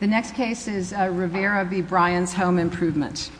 The next case is Rivera v. Bryan's Home Improvement.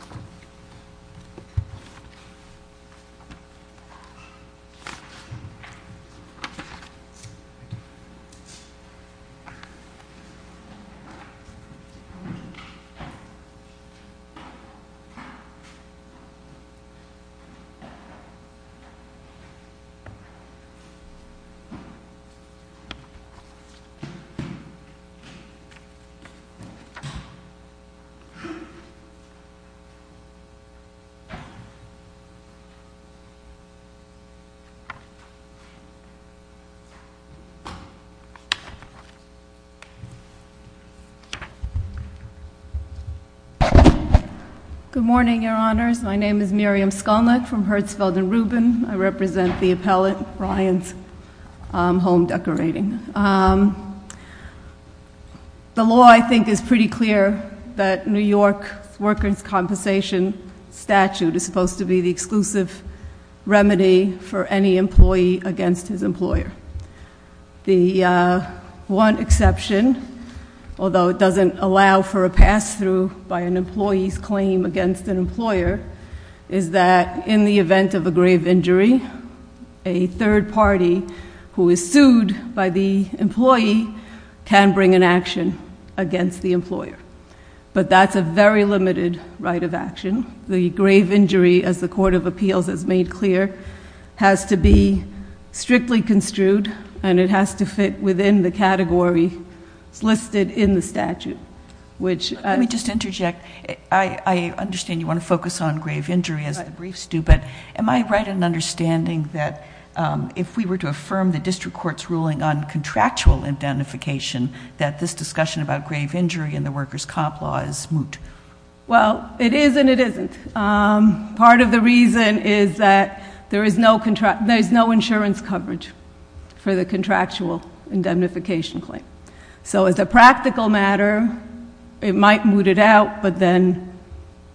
Good morning, Your Honors. My name is Miriam Skolnick from Herzfeld & Rubin. I represent the appellate, Bryan's Home Decorating. The law, I think, is pretty clear that New York workers' compensation statute is supposed to be the exclusive remedy for any employee against his employer. The one exception, although it doesn't allow for a pass-through by an employee's claim against an employer, is that in the event of a grave injury, a third party who is sued by the employee can bring an action against the employer, but that's a very limited right of action. The grave injury, as the Court of Appeals has made clear, has to be strictly construed and it has to fit within the category listed in the statute, which... Let me just interject. I understand you want to focus on grave injury as the briefs do, but am I right in understanding that if we were to affirm the district court's ruling on contractual indemnification, that this discussion about grave injury in the workers' comp law is moot? Well, it is and it isn't. Part of the reason is that there is no insurance coverage for the contractual indemnification claim. So as a practical matter, it might moot it out, but then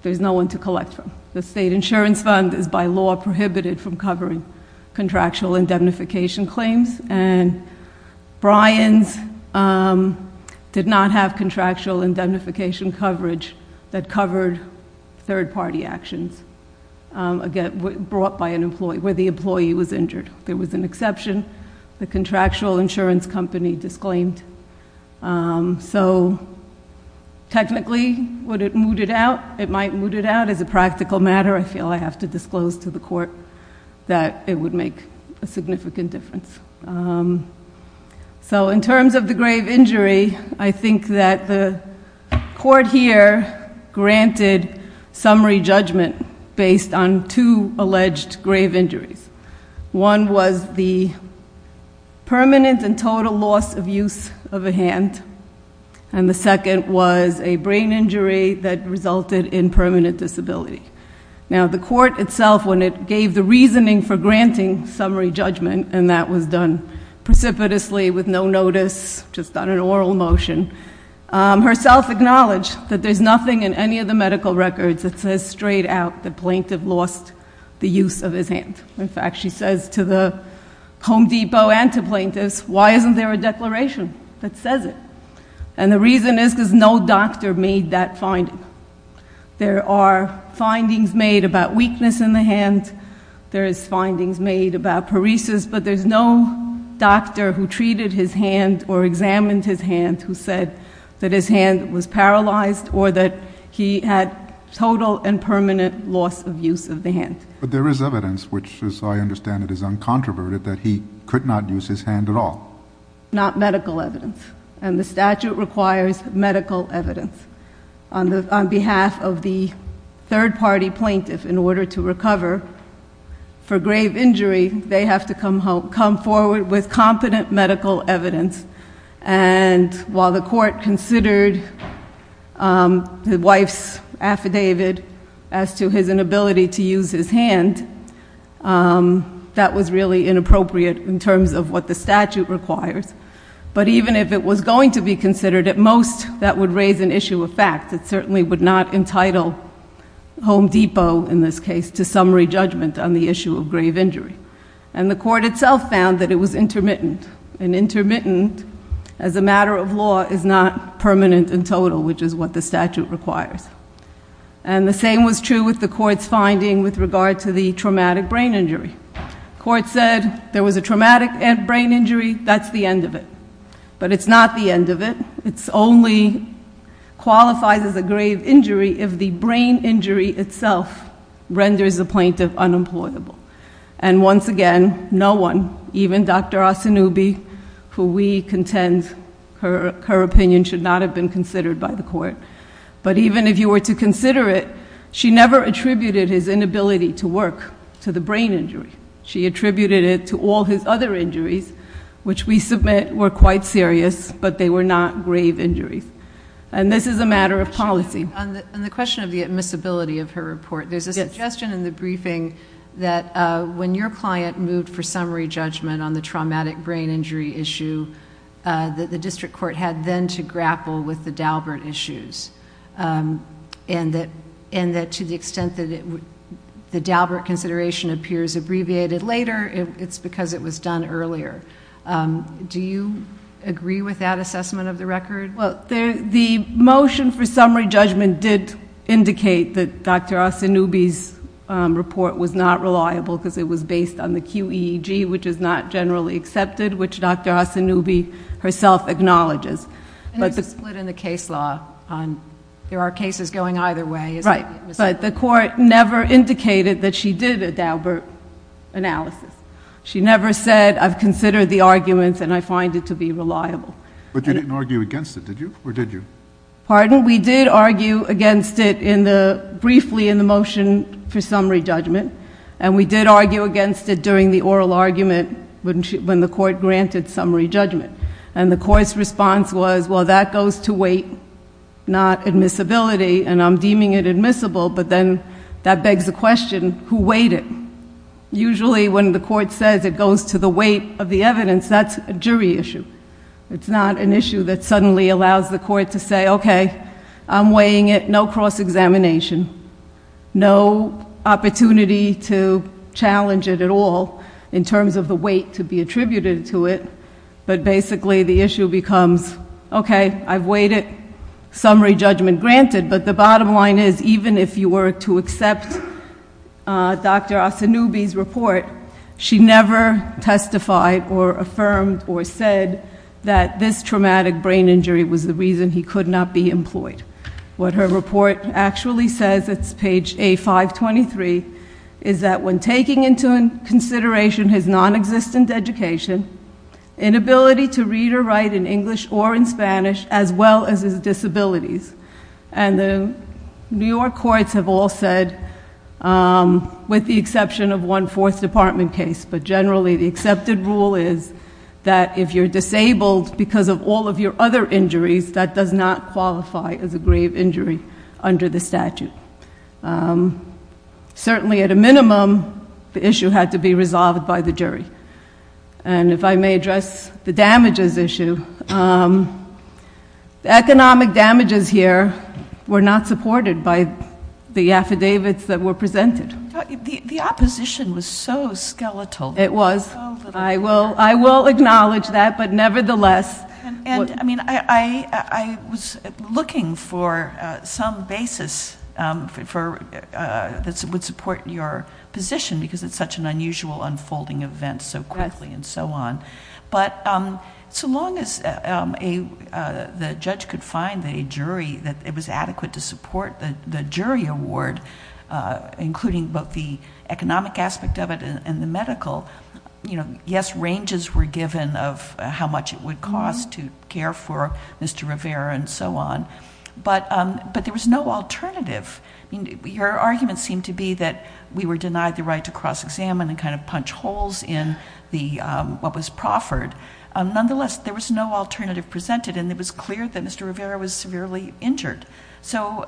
there's no one to collect from. The state insurance fund is by law prohibited from covering contractual indemnification claims and Bryan's did not have contractual indemnification coverage that covered third party actions brought by an employee, where the employee was injured. There was an exception. The contractual insurance company disclaimed. So technically, would it moot it out? It might moot it out. As a practical matter, I feel I have to disclose to the court that it would make a significant difference. So in terms of the grave injury, I think that the court here granted summary judgment based on two alleged grave injuries. One was the permanent and total loss of use of a hand. And the second was a brain injury that resulted in permanent disability. Now the court itself, when it gave the reasoning for granting summary judgment, and that was done precipitously with no notice, just on an oral motion, herself acknowledged that there's nothing in any of the medical records that says straight out the plaintiff lost the use of his hand. In fact, she says to the Home Depot and to plaintiffs, why isn't there a declaration that says it? And the reason is because no doctor made that finding. There are findings made about weakness in the hand. There is findings made about paresis, but there's no doctor who treated his hand or examined his hand who said that his hand was paralyzed or that he had total and permanent loss of use of the hand. But there is evidence, which as I understand it is uncontroverted, that he could not use his hand at all. Not medical evidence. And the statute requires medical evidence. On behalf of the third party plaintiff, in order to recover for grave injury, they have to come forward with competent medical evidence. And while the court considered the wife's affidavit as to his inability to use his hand, that was really inappropriate in terms of what the statute requires. But even if it was going to be considered, at most that would raise an issue of fact. It certainly would not entitle Home Depot, in this case, to summary judgment on the issue of grave injury. And the court itself found that it was intermittent. And intermittent, as a matter of law, is not permanent and total, which is what the statute requires. And the same was true with the court's finding with regard to the traumatic brain injury. Court said there was a traumatic brain injury, that's the end of it. But it's not the end of it. It only qualifies as a grave injury if the brain injury itself renders the plaintiff unemployable. And once again, no one, even Dr. Asanubi, who we contend her opinion should not have been considered by the court. But even if you were to consider it, she never attributed his inability to work to the brain injury. She attributed it to all his other injuries, which we submit were quite serious, but they were not grave injuries. And this is a matter of policy. On the question of the admissibility of her report, there's a suggestion in the briefing that when your client moved for summary judgment on the traumatic brain injury issue, that the district court had then to grapple with the Daubert issues, and that to the extent that the Daubert consideration appears abbreviated later, it's because it was done earlier. Do you agree with that assessment of the record? The motion for summary judgment did indicate that Dr. Asanubi's report was not reliable because it was based on the QEEG, which is not generally accepted, which Dr. Asanubi herself acknowledges. And there's a split in the case law. There are cases going either way. Right. But the court never indicated that she did a Daubert analysis. She never said, I've considered the arguments and I find it to be reliable. But you didn't argue against it, did you, or did you? Pardon? We did argue against it briefly in the motion for summary judgment. And we did argue against it during the oral argument when the court granted summary judgment. And the court's response was, well, that goes to weight, not admissibility. And I'm deeming it admissible, but then that begs the question, who weighed it? Usually when the court says it goes to the weight of the evidence, that's a jury issue. It's not an issue that suddenly allows the court to say, okay, I'm weighing it, no cross-examination, no opportunity to challenge it at all in terms of the weight to be attributed to it. But basically the issue becomes, okay, I've weighed it, summary judgment granted, but the bottom line is, even if you were to accept Dr. Asanubi's report, she never testified or affirmed or said that this traumatic brain injury was the reason he could not be employed. What her report actually says, it's page A523, is that when taking into consideration his non-existent education, inability to read or write in English or in Spanish, as well as his disabilities. And the New York courts have all said, with the exception of one fourth department case, but generally the accepted rule is that if you're disabled because of all of your other injuries, that does not qualify as a grave injury under the statute. Certainly at a minimum, the issue had to be resolved by the jury. And if I may address the damages issue, economic damages here were not supported by the affidavits that were presented. The opposition was so skeletal. It was. I will acknowledge that, but nevertheless. And I mean, I was looking for some basis that would support your position because it's such an unusual unfolding event. It happens so quickly and so on. But so long as the judge could find a jury that it was adequate to support the jury award, including both the economic aspect of it and the medical. Yes, ranges were given of how much it would cost to care for Mr. Rivera and so on. But there was no alternative. Your argument seemed to be that we were denied the right to cross examine and kind of punch holes in what was proffered. Nonetheless, there was no alternative presented and it was clear that Mr. Rivera was severely injured. So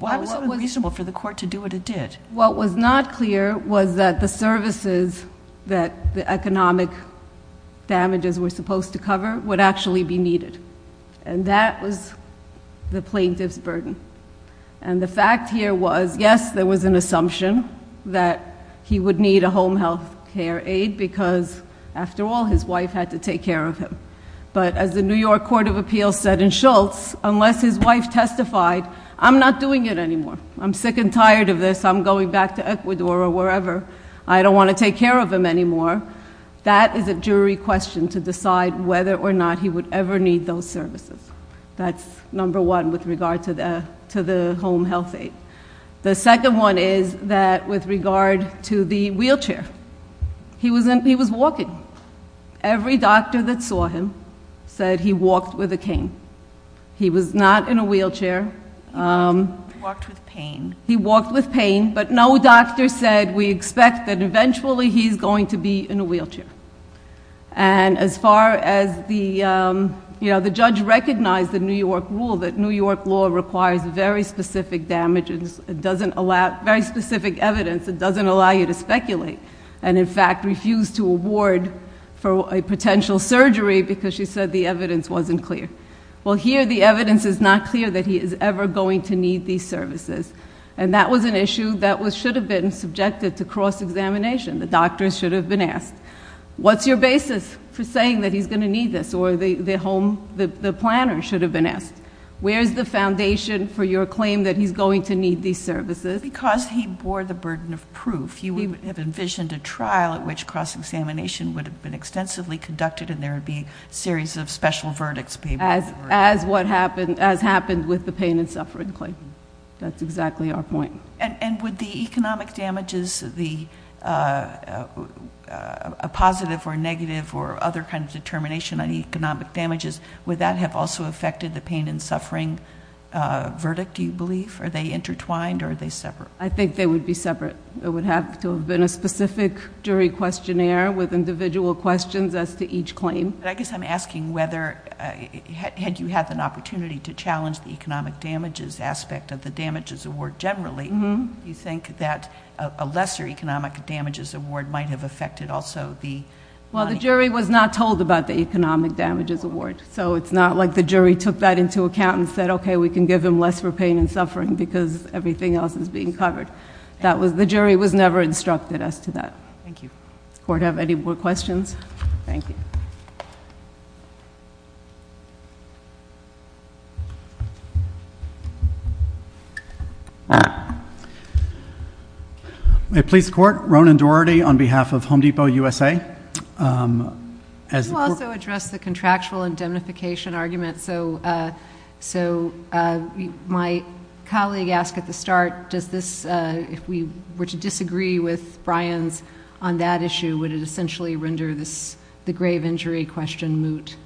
why was it unreasonable for the court to do what it did? What was not clear was that the services that the economic damages were supposed to cover would actually be needed. And that was the plaintiff's burden. And the fact here was, yes, there was an assumption that he would need a home health care aid because after all, his wife had to take care of him. But as the New York Court of Appeals said in Schultz, unless his wife testified, I'm not doing it anymore. I'm sick and tired of this. I'm going back to Ecuador or wherever. I don't want to take care of him anymore. That is a jury question to decide whether or not he would ever need those services. That's number one with regard to the home health aid. The second one is that with regard to the wheelchair, he was walking. Every doctor that saw him said he walked with a cane. He was not in a wheelchair. He walked with pain. He walked with pain, but no doctor said we expect that eventually he's going to be in a wheelchair. And as far as the, the judge recognized the New York rule that New York law requires very specific damage. It doesn't allow, very specific evidence, it doesn't allow you to speculate. And in fact, refused to award for a potential surgery because she said the evidence wasn't clear. Well here the evidence is not clear that he is ever going to need these services. And that was an issue that should have been subjected to cross examination. The doctors should have been asked. What's your basis for saying that he's going to need this? Or the home, the planner should have been asked. Where's the foundation for your claim that he's going to need these services? Because he bore the burden of proof. He would have envisioned a trial at which cross examination would have been extensively conducted and there would be a series of special verdicts paid for. As what happened, as happened with the pain and suffering claim. That's exactly our point. And would the economic damages, the, a positive or negative or other kind of determination on economic damages, would that have also affected the pain and suffering verdict, do you believe? Are they intertwined or are they separate? I think they would be separate. It would have to have been a specific jury questionnaire with individual questions as to each claim. But I guess I'm asking whether, had you had an opportunity to challenge the economic damages aspect of the damages award generally. Do you think that a lesser economic damages award might have affected also the- Well, the jury was not told about the economic damages award. So it's not like the jury took that into account and said, okay, we can give him less for pain and suffering because everything else is being covered. That was, the jury was never instructed as to that. Thank you. Court, have any more questions? Thank you. May I please court, Ronan Doherty on behalf of Home Depot USA. As the court- I also want to address the contractual indemnification argument. So my colleague asked at the start, does this, if we were to disagree with Bryan's on that issue, would it essentially render the grave injury question moot?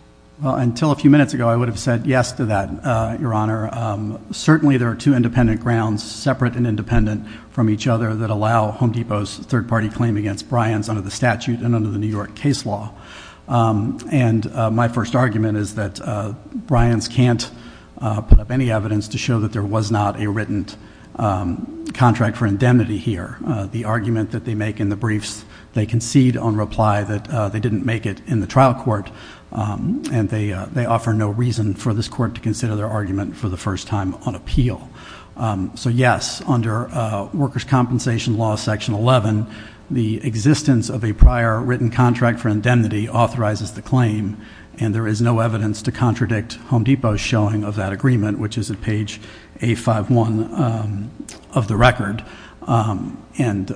Until a few minutes ago, I would have said yes to that, your honor. Certainly there are two independent grounds, separate and independent from each other, that allow Home Depot's third party claim against Bryan's under the statute and under the New York case law. And my first argument is that Bryan's can't put up any evidence to show that there was not a written contract for indemnity here, the argument that they make in the briefs. They concede on reply that they didn't make it in the trial court, and they offer no reason for this court to consider their argument for the first time on appeal. So yes, under workers' compensation law section 11, the existence of a prior written contract for indemnity authorizes the claim. And there is no evidence to contradict Home Depot's showing of that agreement, which is at page A51 of the record. And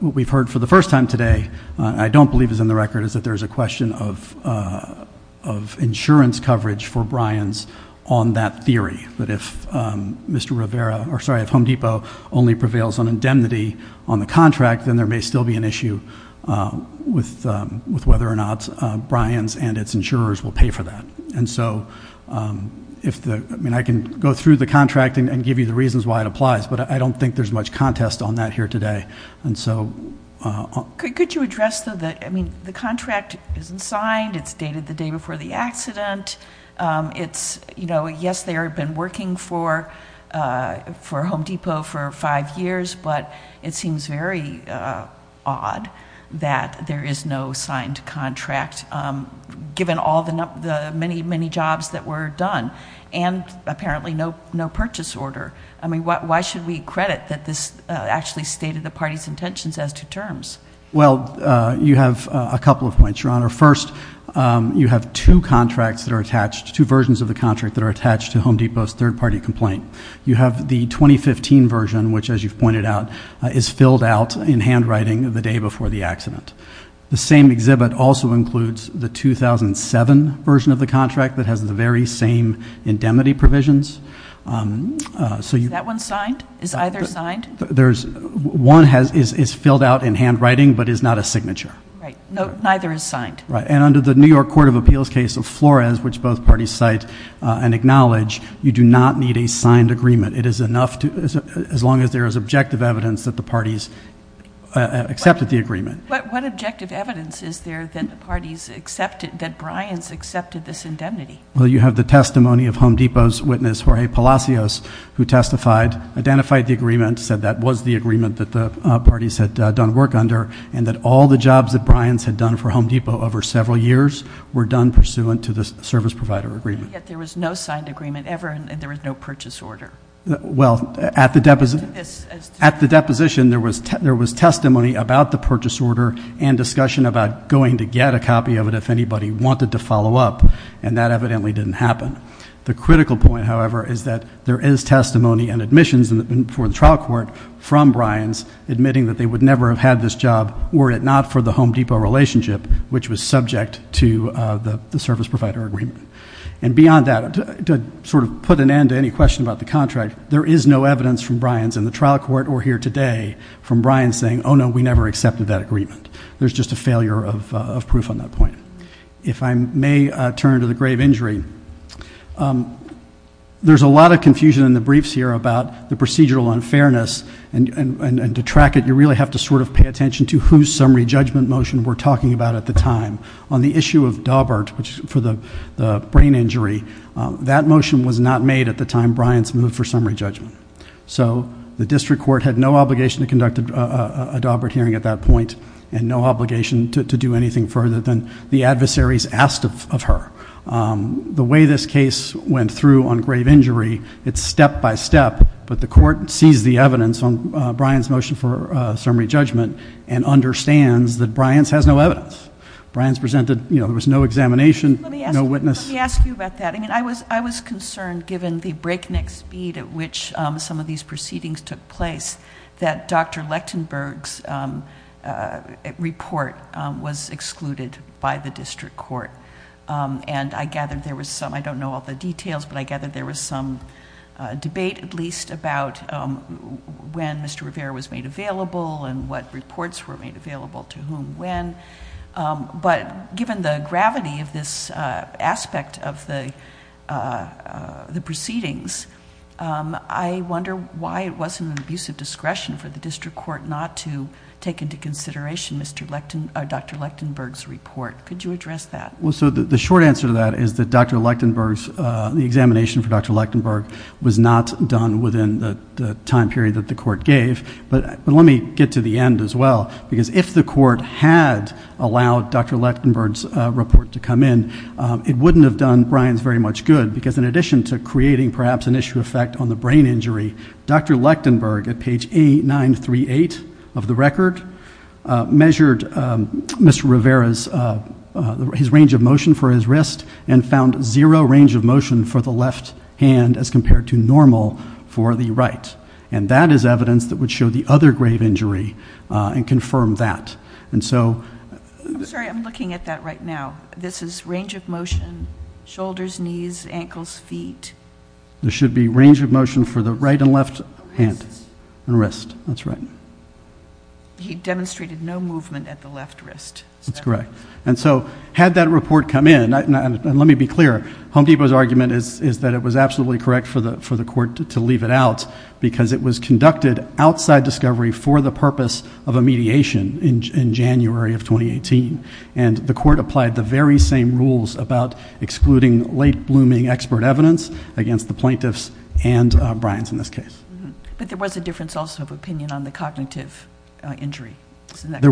what we've heard for the first time today, I don't believe is in the record, is that there's a question of insurance coverage for Bryan's on that theory. But if Mr. Rivera, or sorry, if Home Depot only prevails on indemnity on the contract, then there may still be an issue with whether or not Bryan's and its insurers will pay for that. And so, I mean, I can go through the contract and give you the reasons why it applies. But I don't think there's much contest on that here today. And so- Could you address the, I mean, the contract isn't signed, it's dated the day before the accident. It's, yes, they have been working for Home Depot for five years, but it seems very odd that there is no signed contract, given all the many, many jobs that were done, and apparently no purchase order. I mean, why should we credit that this actually stated the party's intentions as to terms? Well, you have a couple of points, Your Honor. First, you have two contracts that are attached, two versions of the contract that are attached to Home Depot's third party complaint. You have the 2015 version, which as you've pointed out, is filled out in handwriting the day before the accident. The same exhibit also includes the 2007 version of the contract that has the very same indemnity provisions. So you- Is that one signed? Is either signed? There's, one is filled out in handwriting, but is not a signature. Right, neither is signed. Right, and under the New York Court of Appeals case of Flores, which both parties cite and signed agreement, it is enough to, as long as there is objective evidence that the parties accepted the agreement. What objective evidence is there that the parties accepted, that Bryan's accepted this indemnity? Well, you have the testimony of Home Depot's witness, Jorge Palacios, who testified, identified the agreement, said that was the agreement that the parties had done work under. And that all the jobs that Bryan's had done for Home Depot over several years were done pursuant to the service provider agreement. And yet there was no signed agreement ever, and there was no purchase order. Well, at the deposition, there was testimony about the purchase order and discussion about going to get a copy of it if anybody wanted to follow up, and that evidently didn't happen. The critical point, however, is that there is testimony and admissions for the trial court from Bryan's, admitting that they would never have had this job were it not for the Home Depot relationship, which was subject to the service provider agreement. And beyond that, to sort of put an end to any question about the contract, there is no evidence from Bryan's in the trial court or here today from Bryan's saying, no, we never accepted that agreement. There's just a failure of proof on that point. If I may turn to the grave injury, there's a lot of confusion in the briefs here about the procedural unfairness. And to track it, you really have to sort of pay attention to whose summary judgment motion we're talking about at the time. On the issue of Daubert, for the brain injury, that motion was not made at the time Bryan's moved for summary judgment. So the district court had no obligation to conduct a Daubert hearing at that point, and no obligation to do anything further than the adversaries asked of her. The way this case went through on grave injury, it's step by step, but the court sees the evidence on Bryan's motion for summary judgment and understands that Bryan's has no evidence. Bryan's presented, there was no examination, no witness. Let me ask you about that. I was concerned, given the breakneck speed at which some of these proceedings took place, that Dr. Lechtenberg's report was excluded by the district court. And I gathered there was some, I don't know all the details, but I gathered there was some debate, at least about when Mr. Rivera was made available and what reports were made available to whom when. But given the gravity of this aspect of the proceedings, I wonder why it wasn't an abuse of discretion for the district court not to take into consideration Dr. Lechtenberg's report. Could you address that? Well, so the short answer to that is that Dr. Lechtenberg's, the examination for Dr. Lechtenberg was not done within the time period that the court gave. But let me get to the end as well, because if the court had allowed Dr. Lechtenberg's report to come in, it wouldn't have done Bryan's very much good. Because in addition to creating perhaps an issue effect on the brain injury, Dr. Lechtenberg at page 938 of the record measured Mr. Rivera's, his range of motion for his wrist and found zero range of motion for the left hand as compared to normal for the right. And that is evidence that would show the other grave injury and confirm that. And so- I'm sorry, I'm looking at that right now. This is range of motion, shoulders, knees, ankles, feet. There should be range of motion for the right and left hand. And wrist, that's right. He demonstrated no movement at the left wrist. That's correct. And so, had that report come in, and let me be clear, Home Depot's argument is that it was because it was conducted outside discovery for the purpose of a mediation in January of 2018. And the court applied the very same rules about excluding late blooming expert evidence against the plaintiffs and Bryan's in this case. But there was a difference also of opinion on the cognitive injury. There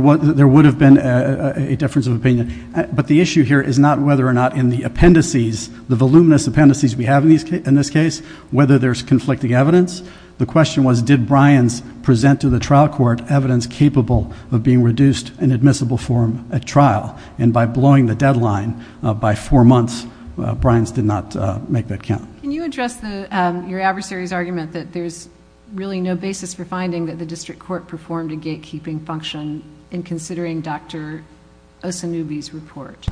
would have been a difference of opinion. But the issue here is not whether or not in the appendices, the voluminous appendices we have in this case, whether there's conflicting evidence. The question was, did Bryan's present to the trial court evidence capable of being reduced in admissible form at trial? And by blowing the deadline by four months, Bryan's did not make that count. Can you address your adversary's argument that there's really no basis for finding that the district court performed a gatekeeping function in considering Dr. Osanubi's report?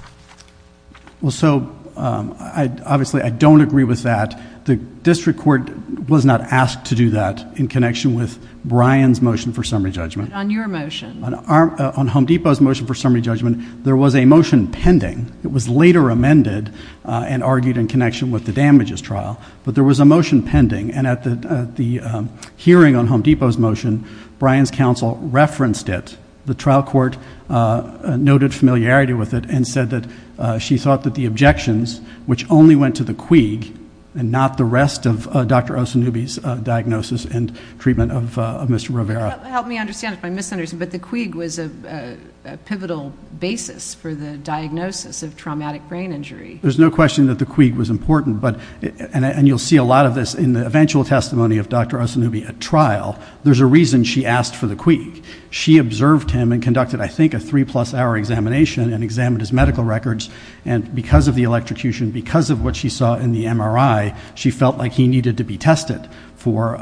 Well, so, obviously, I don't agree with that. The district court was not asked to do that in connection with Bryan's motion for summary judgment. On your motion. On Home Depot's motion for summary judgment, there was a motion pending. It was later amended and argued in connection with the damages trial. But there was a motion pending, and at the hearing on Home Depot's motion, Bryan's counsel referenced it. The trial court noted familiarity with it and said that she thought that the objections, which only went to the quig, and not the rest of Dr. Osanubi's diagnosis and treatment of Mr. Rivera. Help me understand if I'm misunderstood, but the quig was a pivotal basis for the diagnosis of traumatic brain injury. There's no question that the quig was important, and you'll see a lot of this in the eventual testimony of Dr. Osanubi at trial. There's a reason she asked for the quig. She observed him and conducted, I think, a three plus hour examination and examined his medical records. And because of the electrocution, because of what she saw in the MRI, she felt like he needed to be tested for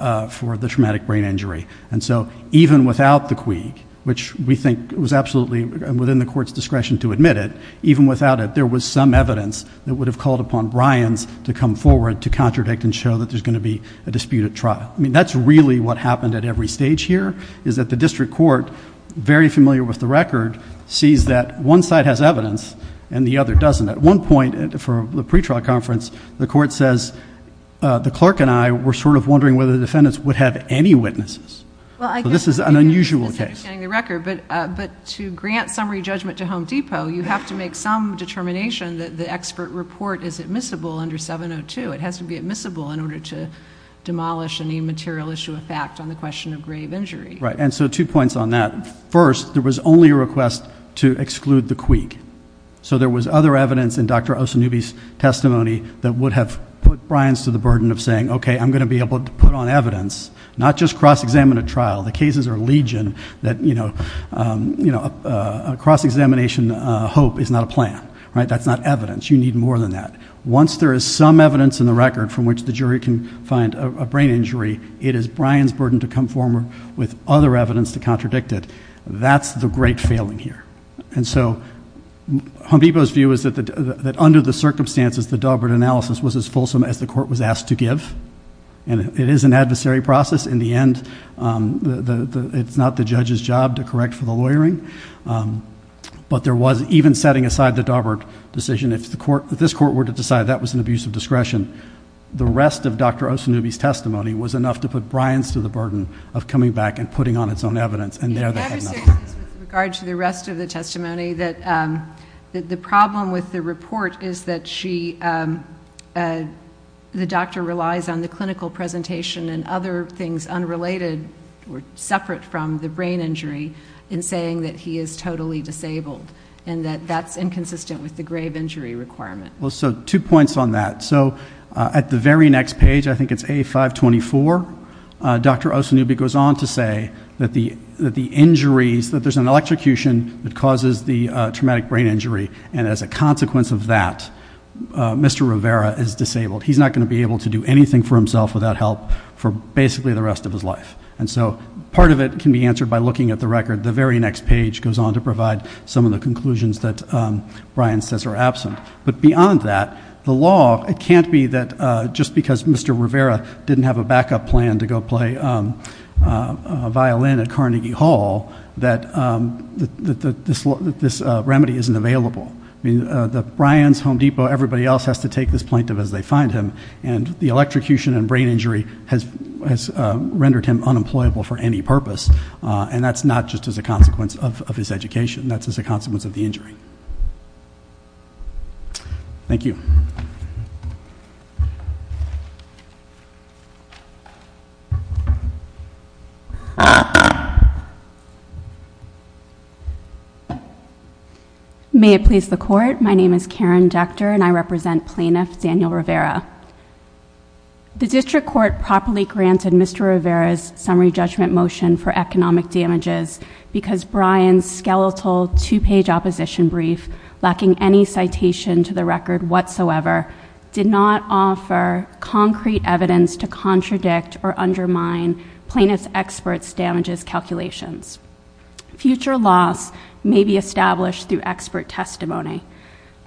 the traumatic brain injury. And so even without the quig, which we think was absolutely within the court's discretion to admit it, even without it, there was some evidence that would have called upon Bryan's to come forward to contradict and show that there's going to be a disputed trial. I mean, that's really what happened at every stage here, is that the district court, very familiar with the record, sees that one side has evidence and the other doesn't. At one point, for the pre-trial conference, the court says, the clerk and I were sort of wondering whether the defendants would have any witnesses, so this is an unusual case. But to grant summary judgment to Home Depot, you have to make some determination that the expert report is admissible under 702. It has to be admissible in order to demolish any material issue of fact on the question of grave injury. Right, and so two points on that. First, there was only a request to exclude the quig. So there was other evidence in Dr. Osanubi's testimony that would have put Bryan's to the burden of saying, okay, I'm going to be able to put on evidence, not just cross-examine a trial. The cases are legion that a cross-examination hope is not a plan, right? That's not evidence. You need more than that. Once there is some evidence in the record from which the jury can find a brain injury, it is Bryan's burden to conform with other evidence to contradict it. That's the great failing here. And so, Home Depot's view is that under the circumstances, the Daubert analysis was as fulsome as the court was asked to give. And it is an adversary process. In the end, it's not the judge's job to correct for the lawyering. But there was, even setting aside the Daubert decision, if this court were to decide that was an abuse of discretion, the rest of Dr. Osanubi's testimony was enough to put Bryan's to the burden of coming back and putting on its own evidence. And there they had nothing. With regard to the rest of the testimony, the problem with the report is that she, the doctor relies on the clinical presentation and other things unrelated or separate from the brain injury in saying that he is totally disabled. And that that's inconsistent with the grave injury requirement. Well, so two points on that. So, at the very next page, I think it's A524, Dr. Osanubi goes on to say that the injuries, that there's an electrocution that causes the traumatic brain injury. And as a consequence of that, Mr. Rivera is disabled. He's not going to be able to do anything for himself without help for basically the rest of his life. And so, part of it can be answered by looking at the record. The very next page goes on to provide some of the conclusions that Bryan says are absent. But beyond that, the law, it can't be that just because Mr. Rivera didn't have a backup plan to go play a violin at Carnegie Hall, that this remedy isn't available. I mean, Bryan's Home Depot, everybody else has to take this plaintiff as they find him. And the electrocution and brain injury has rendered him unemployable for any purpose. And that's not just as a consequence of his education, that's as a consequence of the injury. Thank you. May it please the court, my name is Karen Dechter and I represent Plaintiff Daniel Rivera. The district court properly granted Mr. Rivera's summary judgment motion for economic damages because Bryan's skeletal two page opposition brief lacking any citation to the record whatsoever did not offer concrete evidence to contradict or undermine plaintiff's expert damages calculations. Future loss may be established through expert testimony.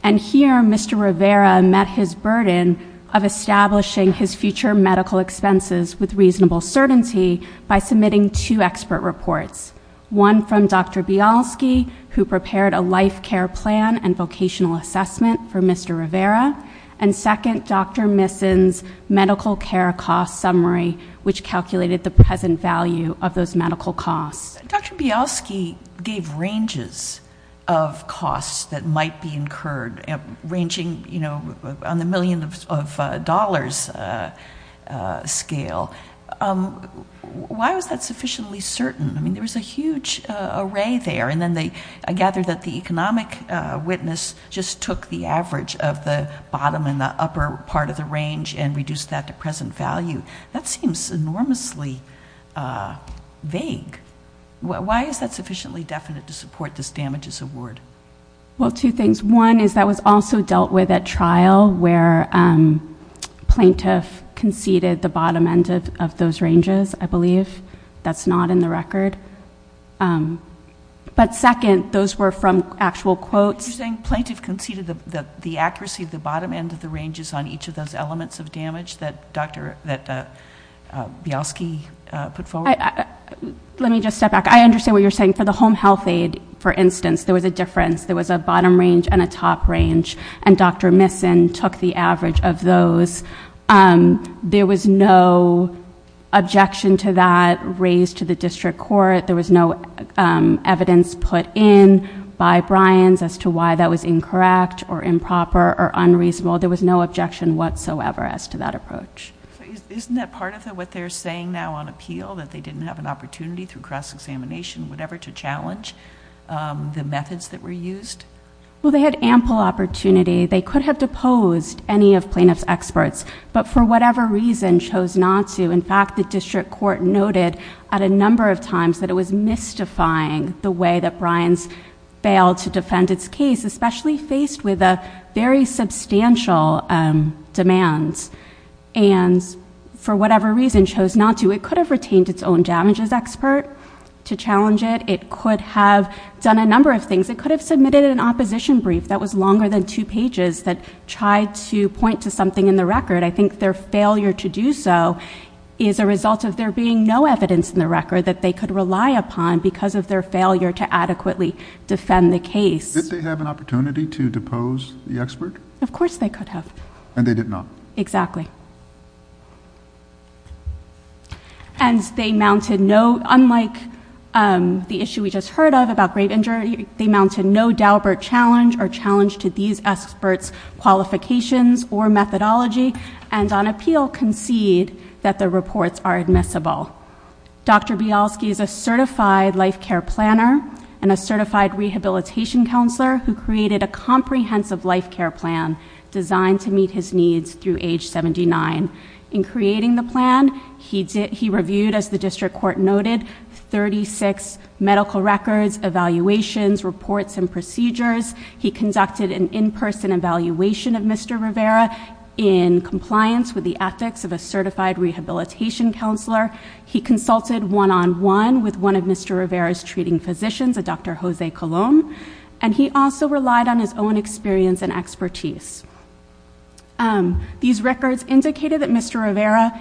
And here, Mr. Rivera met his burden of establishing his future medical expenses with reasonable certainty by submitting two expert reports. One from Dr. Bialsky, who prepared a life care plan and vocational assessment for Mr. Rivera. And second, Dr. Misson's medical care cost summary, which calculated the present value of those medical costs. Dr. Bialsky gave ranges of costs that might be incurred, ranging on the million of dollars scale. Why was that sufficiently certain? There was a huge array there, and then they gathered that the economic witness just took the average of the bottom and the upper part of the range and reduced that to present value. That seems enormously vague. Why is that sufficiently definite to support this damages award? Well, two things. One is that was also dealt with at trial where plaintiff conceded the bottom end of those ranges, I believe. That's not in the record. But second, those were from actual quotes. You're saying plaintiff conceded the accuracy of the bottom end of the ranges on each of those elements of damage that Bialsky put forward? Let me just step back. I understand what you're saying. For the home health aid, for instance, there was a difference. There was a bottom range and a top range. And Dr. Misson took the average of those. There was no objection to that raised to the district court. There was no evidence put in by Bryans as to why that was incorrect or improper or unreasonable. There was no objection whatsoever as to that approach. Isn't that part of what they're saying now on appeal, that they didn't have an opportunity through cross-examination, whatever, to challenge the methods that were used? Well, they had ample opportunity. They could have deposed any of plaintiff's experts, but for whatever reason, chose not to. In fact, the district court noted at a number of times that it was mystifying the way that Bryans failed to defend its case, especially faced with a very substantial demands. And for whatever reason, chose not to. It could have retained its own damages expert to challenge it. It could have done a number of things. It could have submitted an opposition brief that was longer than two pages that tried to point to something in the record. I think their failure to do so is a result of there being no evidence in the record that they could rely upon because of their failure to adequately defend the case. Did they have an opportunity to depose the expert? Of course they could have. And they did not. Exactly. And they mounted no, unlike the issue we just heard of about great injury. They mounted no Daubert challenge or challenge to these experts' qualifications or methodology. And on appeal concede that the reports are admissible. Dr. Bialski is a certified life care planner and a certified rehabilitation counselor who created a comprehensive life care plan designed to meet his needs through age 79. In creating the plan, he reviewed, as the district court noted, 36 medical records, evaluations, reports, and procedures. He conducted an in-person evaluation of Mr. Rivera in compliance with the ethics of a certified rehabilitation counselor. He consulted one-on-one with one of Mr. Rivera's treating physicians, a Dr. Jose Colon. And he also relied on his own experience and expertise. These records indicated that Mr. Rivera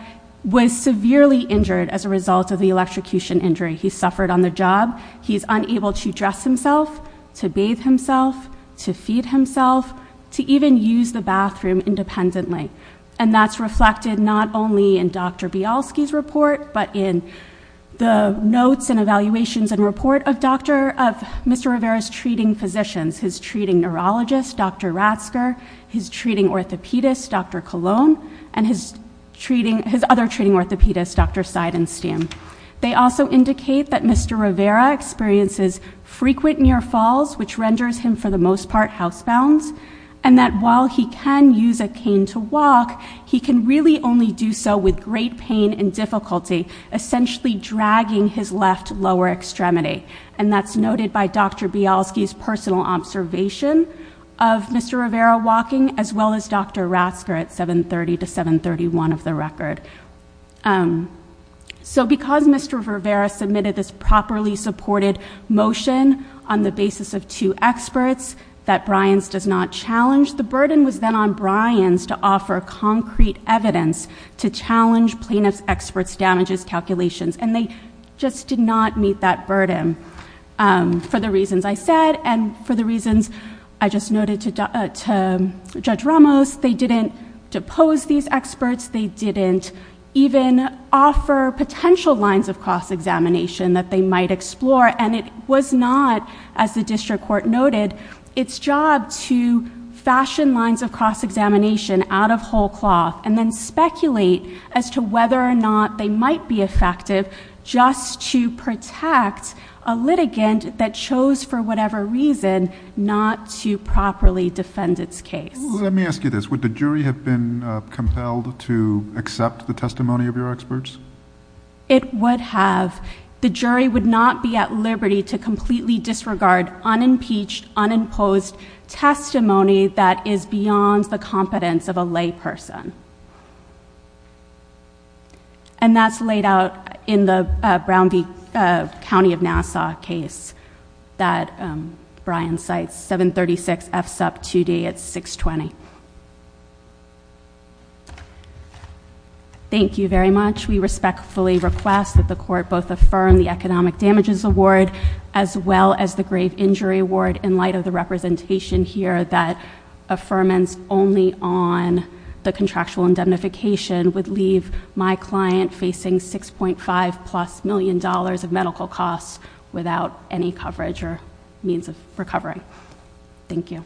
was severely injured as a result of the electrocution injury. He suffered on the job. He's unable to dress himself, to bathe himself, to feed himself, to even use the bathroom independently. And that's reflected not only in Dr. Bialski's report, but in the notes and his treating physicians, his treating neurologist, Dr. Ratsker, his treating orthopedist, Dr. Colon. And his other treating orthopedist, Dr. Seidenstein. They also indicate that Mr. Rivera experiences frequent near falls, which renders him, for the most part, housebound. And that while he can use a cane to walk, he can really only do so with great pain and difficulty, essentially dragging his left lower extremity. And that's noted by Dr. Bialski's personal observation of Mr. Rivera walking, as well as Dr. Ratsker at 730 to 731 of the record. So because Mr. Rivera submitted this properly supported motion on the basis of two experts that Bryans does not challenge. The burden was then on Bryans to offer concrete evidence to challenge plaintiff's experts' damages calculations. And they just did not meet that burden for the reasons I said and for the reasons I just noted to Judge Ramos. They didn't depose these experts. They didn't even offer potential lines of cross-examination that they might explore. And it was not, as the district court noted, its job to fashion lines of cross-examination out of whole cloth. And then speculate as to whether or not they might be effective just to protect a litigant that chose for whatever reason not to properly defend its case. Let me ask you this. Would the jury have been compelled to accept the testimony of your experts? It would have. The jury would not be at liberty to completely disregard unimpeached, unimposed testimony that is beyond the competence of a lay person. And that's laid out in the Brown v. County of Nassau case that Bryan cites, 736 F SUP 2D at 620. Thank you very much. We respectfully request that the court both affirm the Economic Damages Award as well as the Grave Injury Award in light of the representation here that affirmance only on the contractual indemnification would leave my client facing $6.5 plus million of medical costs without any coverage or means of recovery. Thank you.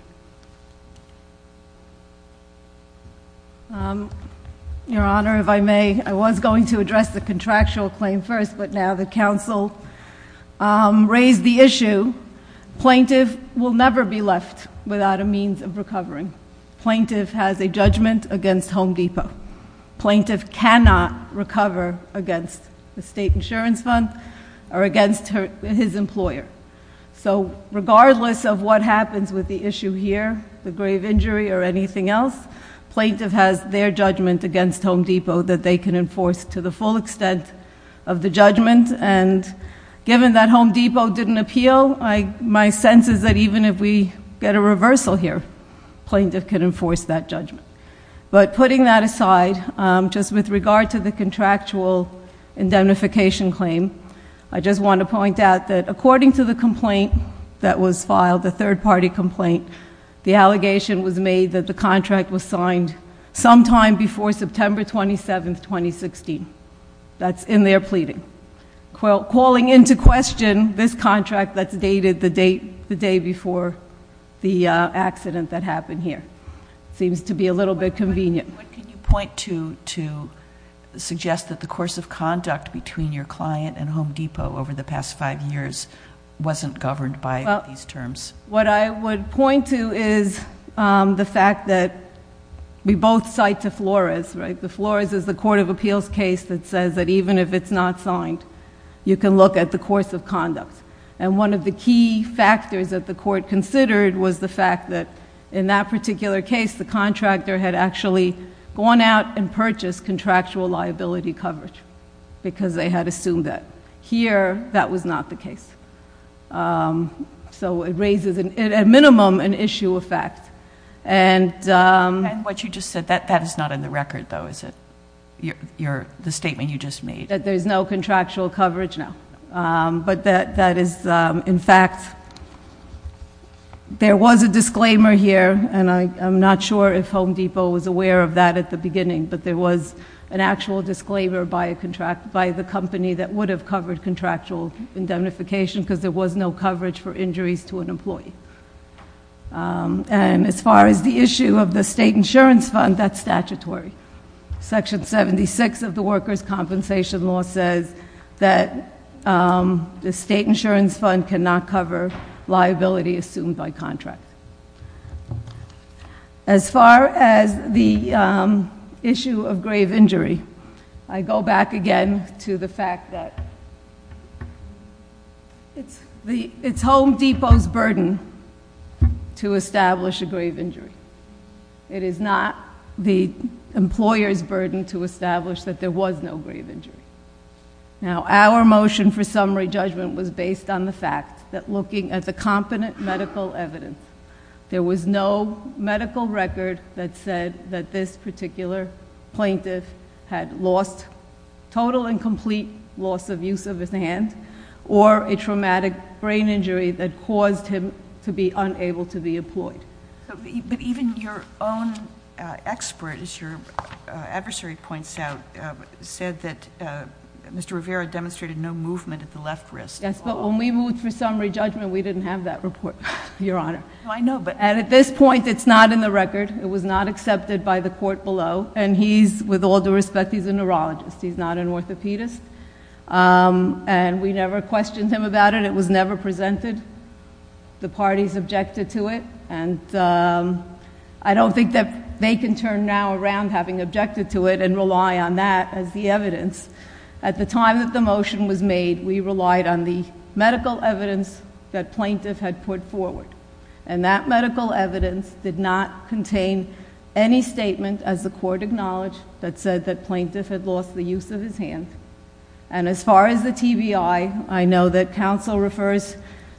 Your Honor, if I may, I was going to address the contractual claim first, but now the council raised the issue. Plaintiff will never be left without a means of recovering. Plaintiff has a judgment against Home Depot. Plaintiff cannot recover against the state insurance fund or against his employer. So regardless of what happens with the issue here, the grave injury or anything else, plaintiff has their judgment against Home Depot that they can enforce to the full extent of the judgment. And given that Home Depot didn't appeal, my sense is that even if we get a reversal here, plaintiff can enforce that judgment. But putting that aside, just with regard to the contractual indemnification claim, I just want to point out that according to the complaint that was filed, the third party complaint, the allegation was made that the contract was signed sometime before September 27th, 2016. That's in their pleading. Calling into question this contract that's dated the day before the accident that happened here. Seems to be a little bit convenient. What can you point to to suggest that the course of conduct between your client and Home Depot over the past five years wasn't governed by these terms? What I would point to is the fact that we both cite to Flores, right? The Flores is the court of appeals case that says that even if it's not signed, you can look at the course of conduct. And one of the key factors that the court considered was the fact that in that particular case, the contractor had actually gone out and purchased contractual liability coverage. Because they had assumed that. Here, that was not the case. So it raises, at minimum, an issue of fact. And- And what you just said, that is not in the record, though, is it? The statement you just made. That there's no contractual coverage, no. But that is, in fact, there was a disclaimer here, and I'm not sure if Home Depot was aware of that at the beginning. But there was an actual disclaimer by the company that would have covered contractual indemnification because there was no coverage for injuries to an employee. And as far as the issue of the state insurance fund, that's statutory. Section 76 of the Workers' Compensation Law says that the state insurance fund cannot cover liability assumed by contract. As far as the issue of grave injury, I go back again to the fact that it's Home Depot's burden to establish a grave injury. It is not the employer's burden to establish that there was no grave injury. Now, our motion for summary judgment was based on the fact that looking at the competent medical evidence, there was no medical record that said that this particular plaintiff had lost, total and complete loss of use of his hand, or a traumatic brain injury that caused him to be unable to be employed. But even your own expert, as your adversary points out, said that Mr. Rivera demonstrated no movement at the left wrist. Yes, but when we moved for summary judgment, we didn't have that report, Your Honor. I know, but- And at this point, it's not in the record. It was not accepted by the court below. And he's, with all due respect, he's a neurologist. He's not an orthopedist. And we never questioned him about it. It was never presented. The parties objected to it. And I don't think that they can turn now around having objected to it and rely on that as the evidence. At the time that the motion was made, we relied on the medical evidence that plaintiff had put forward. And that medical evidence did not contain any statement, as the court acknowledged, that said that plaintiff had lost the use of his hand. And as far as the TBI, I know that counsel refers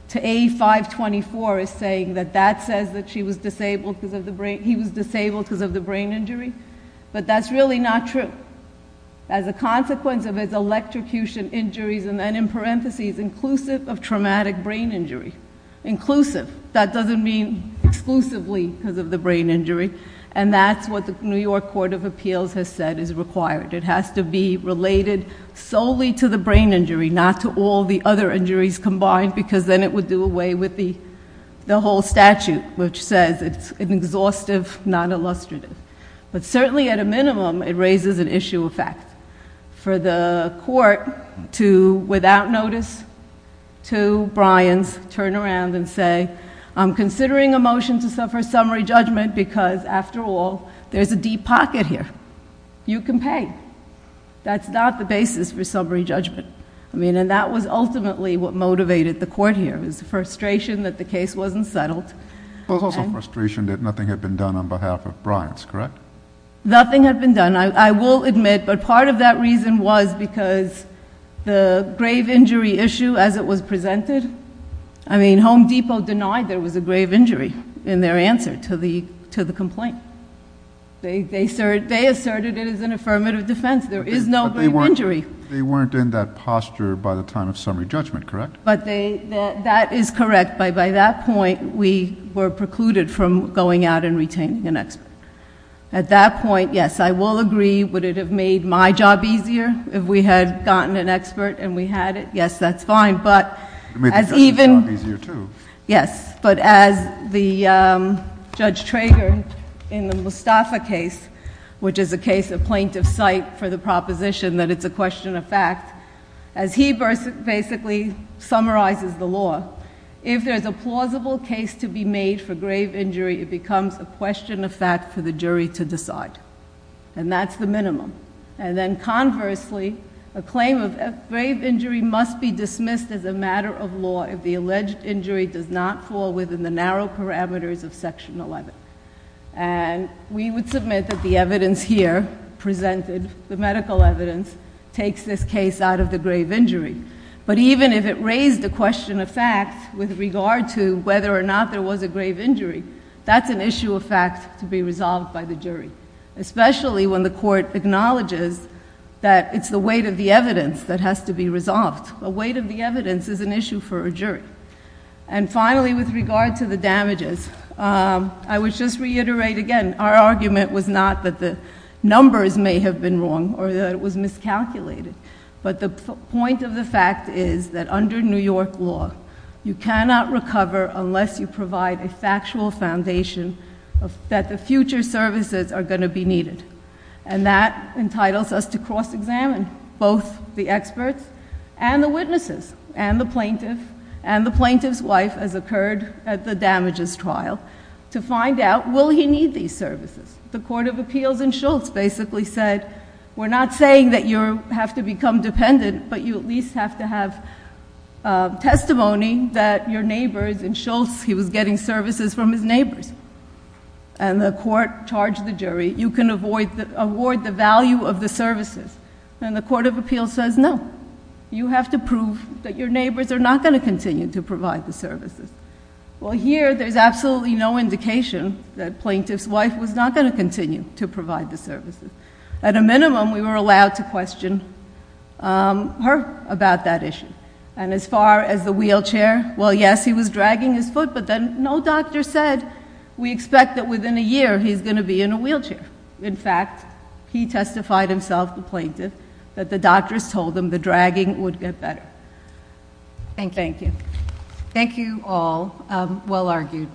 to A524 as saying that that says that he was disabled because of the brain injury, but that's really not true. As a consequence of his electrocution injuries, and then in parentheses, inclusive of traumatic brain injury. Inclusive, that doesn't mean exclusively because of the brain injury. And that's what the New York Court of Appeals has said is required. It has to be related solely to the brain injury, not to all the other injuries combined. Because then it would do away with the whole statute, which says it's an exhaustive, non-illustrative. But certainly at a minimum, it raises an issue of fact. For the court to, without notice, to Bryan's, turn around and say, I'm considering a motion to suffer summary judgment because, after all, there's a deep pocket here. You can pay. That's not the basis for summary judgment. I mean, and that was ultimately what motivated the court here, was the frustration that the case wasn't settled. There was also frustration that nothing had been done on behalf of Bryan's, correct? Nothing had been done, I will admit, but part of that reason was because the grave injury issue as it was presented. I mean, Home Depot denied there was a grave injury in their answer to the complaint. They asserted it as an affirmative defense. There is no grave injury. They weren't in that posture by the time of summary judgment, correct? But that is correct, but by that point, we were precluded from going out and retaining an expert. At that point, yes, I will agree, would it have made my job easier if we had gotten an expert and we had it? Yes, that's fine, but as even- It made the Justice's job easier too. Yes, but as the Judge Trager in the Mustafa case, which is a case of plaintiff's site for the proposition that it's a question of fact. As he basically summarizes the law, if there's a plausible case to be made for grave injury, it becomes a question of fact for the jury to decide, and that's the minimum. And then conversely, a claim of grave injury must be dismissed as a matter of law if the alleged injury does not fall within the narrow parameters of section 11. And we would submit that the evidence here presented, the medical evidence, takes this case out of the grave injury. But even if it raised the question of fact with regard to whether or not there was a grave injury, that's an issue of fact to be resolved by the jury, especially when the court acknowledges that it's the weight of the evidence that has to be resolved. The weight of the evidence is an issue for a jury. And finally, with regard to the damages, I would just reiterate again, our argument was not that the numbers may have been wrong or that it was miscalculated. But the point of the fact is that under New York law, you cannot recover unless you provide a factual foundation that the future services are going to be needed. And that entitles us to cross-examine both the experts and the witnesses, and the plaintiff, and the plaintiff's wife, as occurred at the damages trial, to find out, will he need these services? The Court of Appeals in Schultz basically said, we're not saying that you have to become dependent, but you at least have to have testimony that your neighbor in Schultz, he was getting services from his neighbors. And the court charged the jury, you can award the value of the services. And the Court of Appeals says, no, you have to prove that your neighbors are not going to continue to provide the services. Well, here, there's absolutely no indication that plaintiff's wife was not going to continue to provide the services. At a minimum, we were allowed to question her about that issue. And as far as the wheelchair, well, yes, he was dragging his foot, but then no doctor said we expect that within a year he's going to be in a wheelchair. In fact, he testified himself, the plaintiff, that the doctors told him the dragging would get better. Thank you. Thank you. Thank you all. Well argued.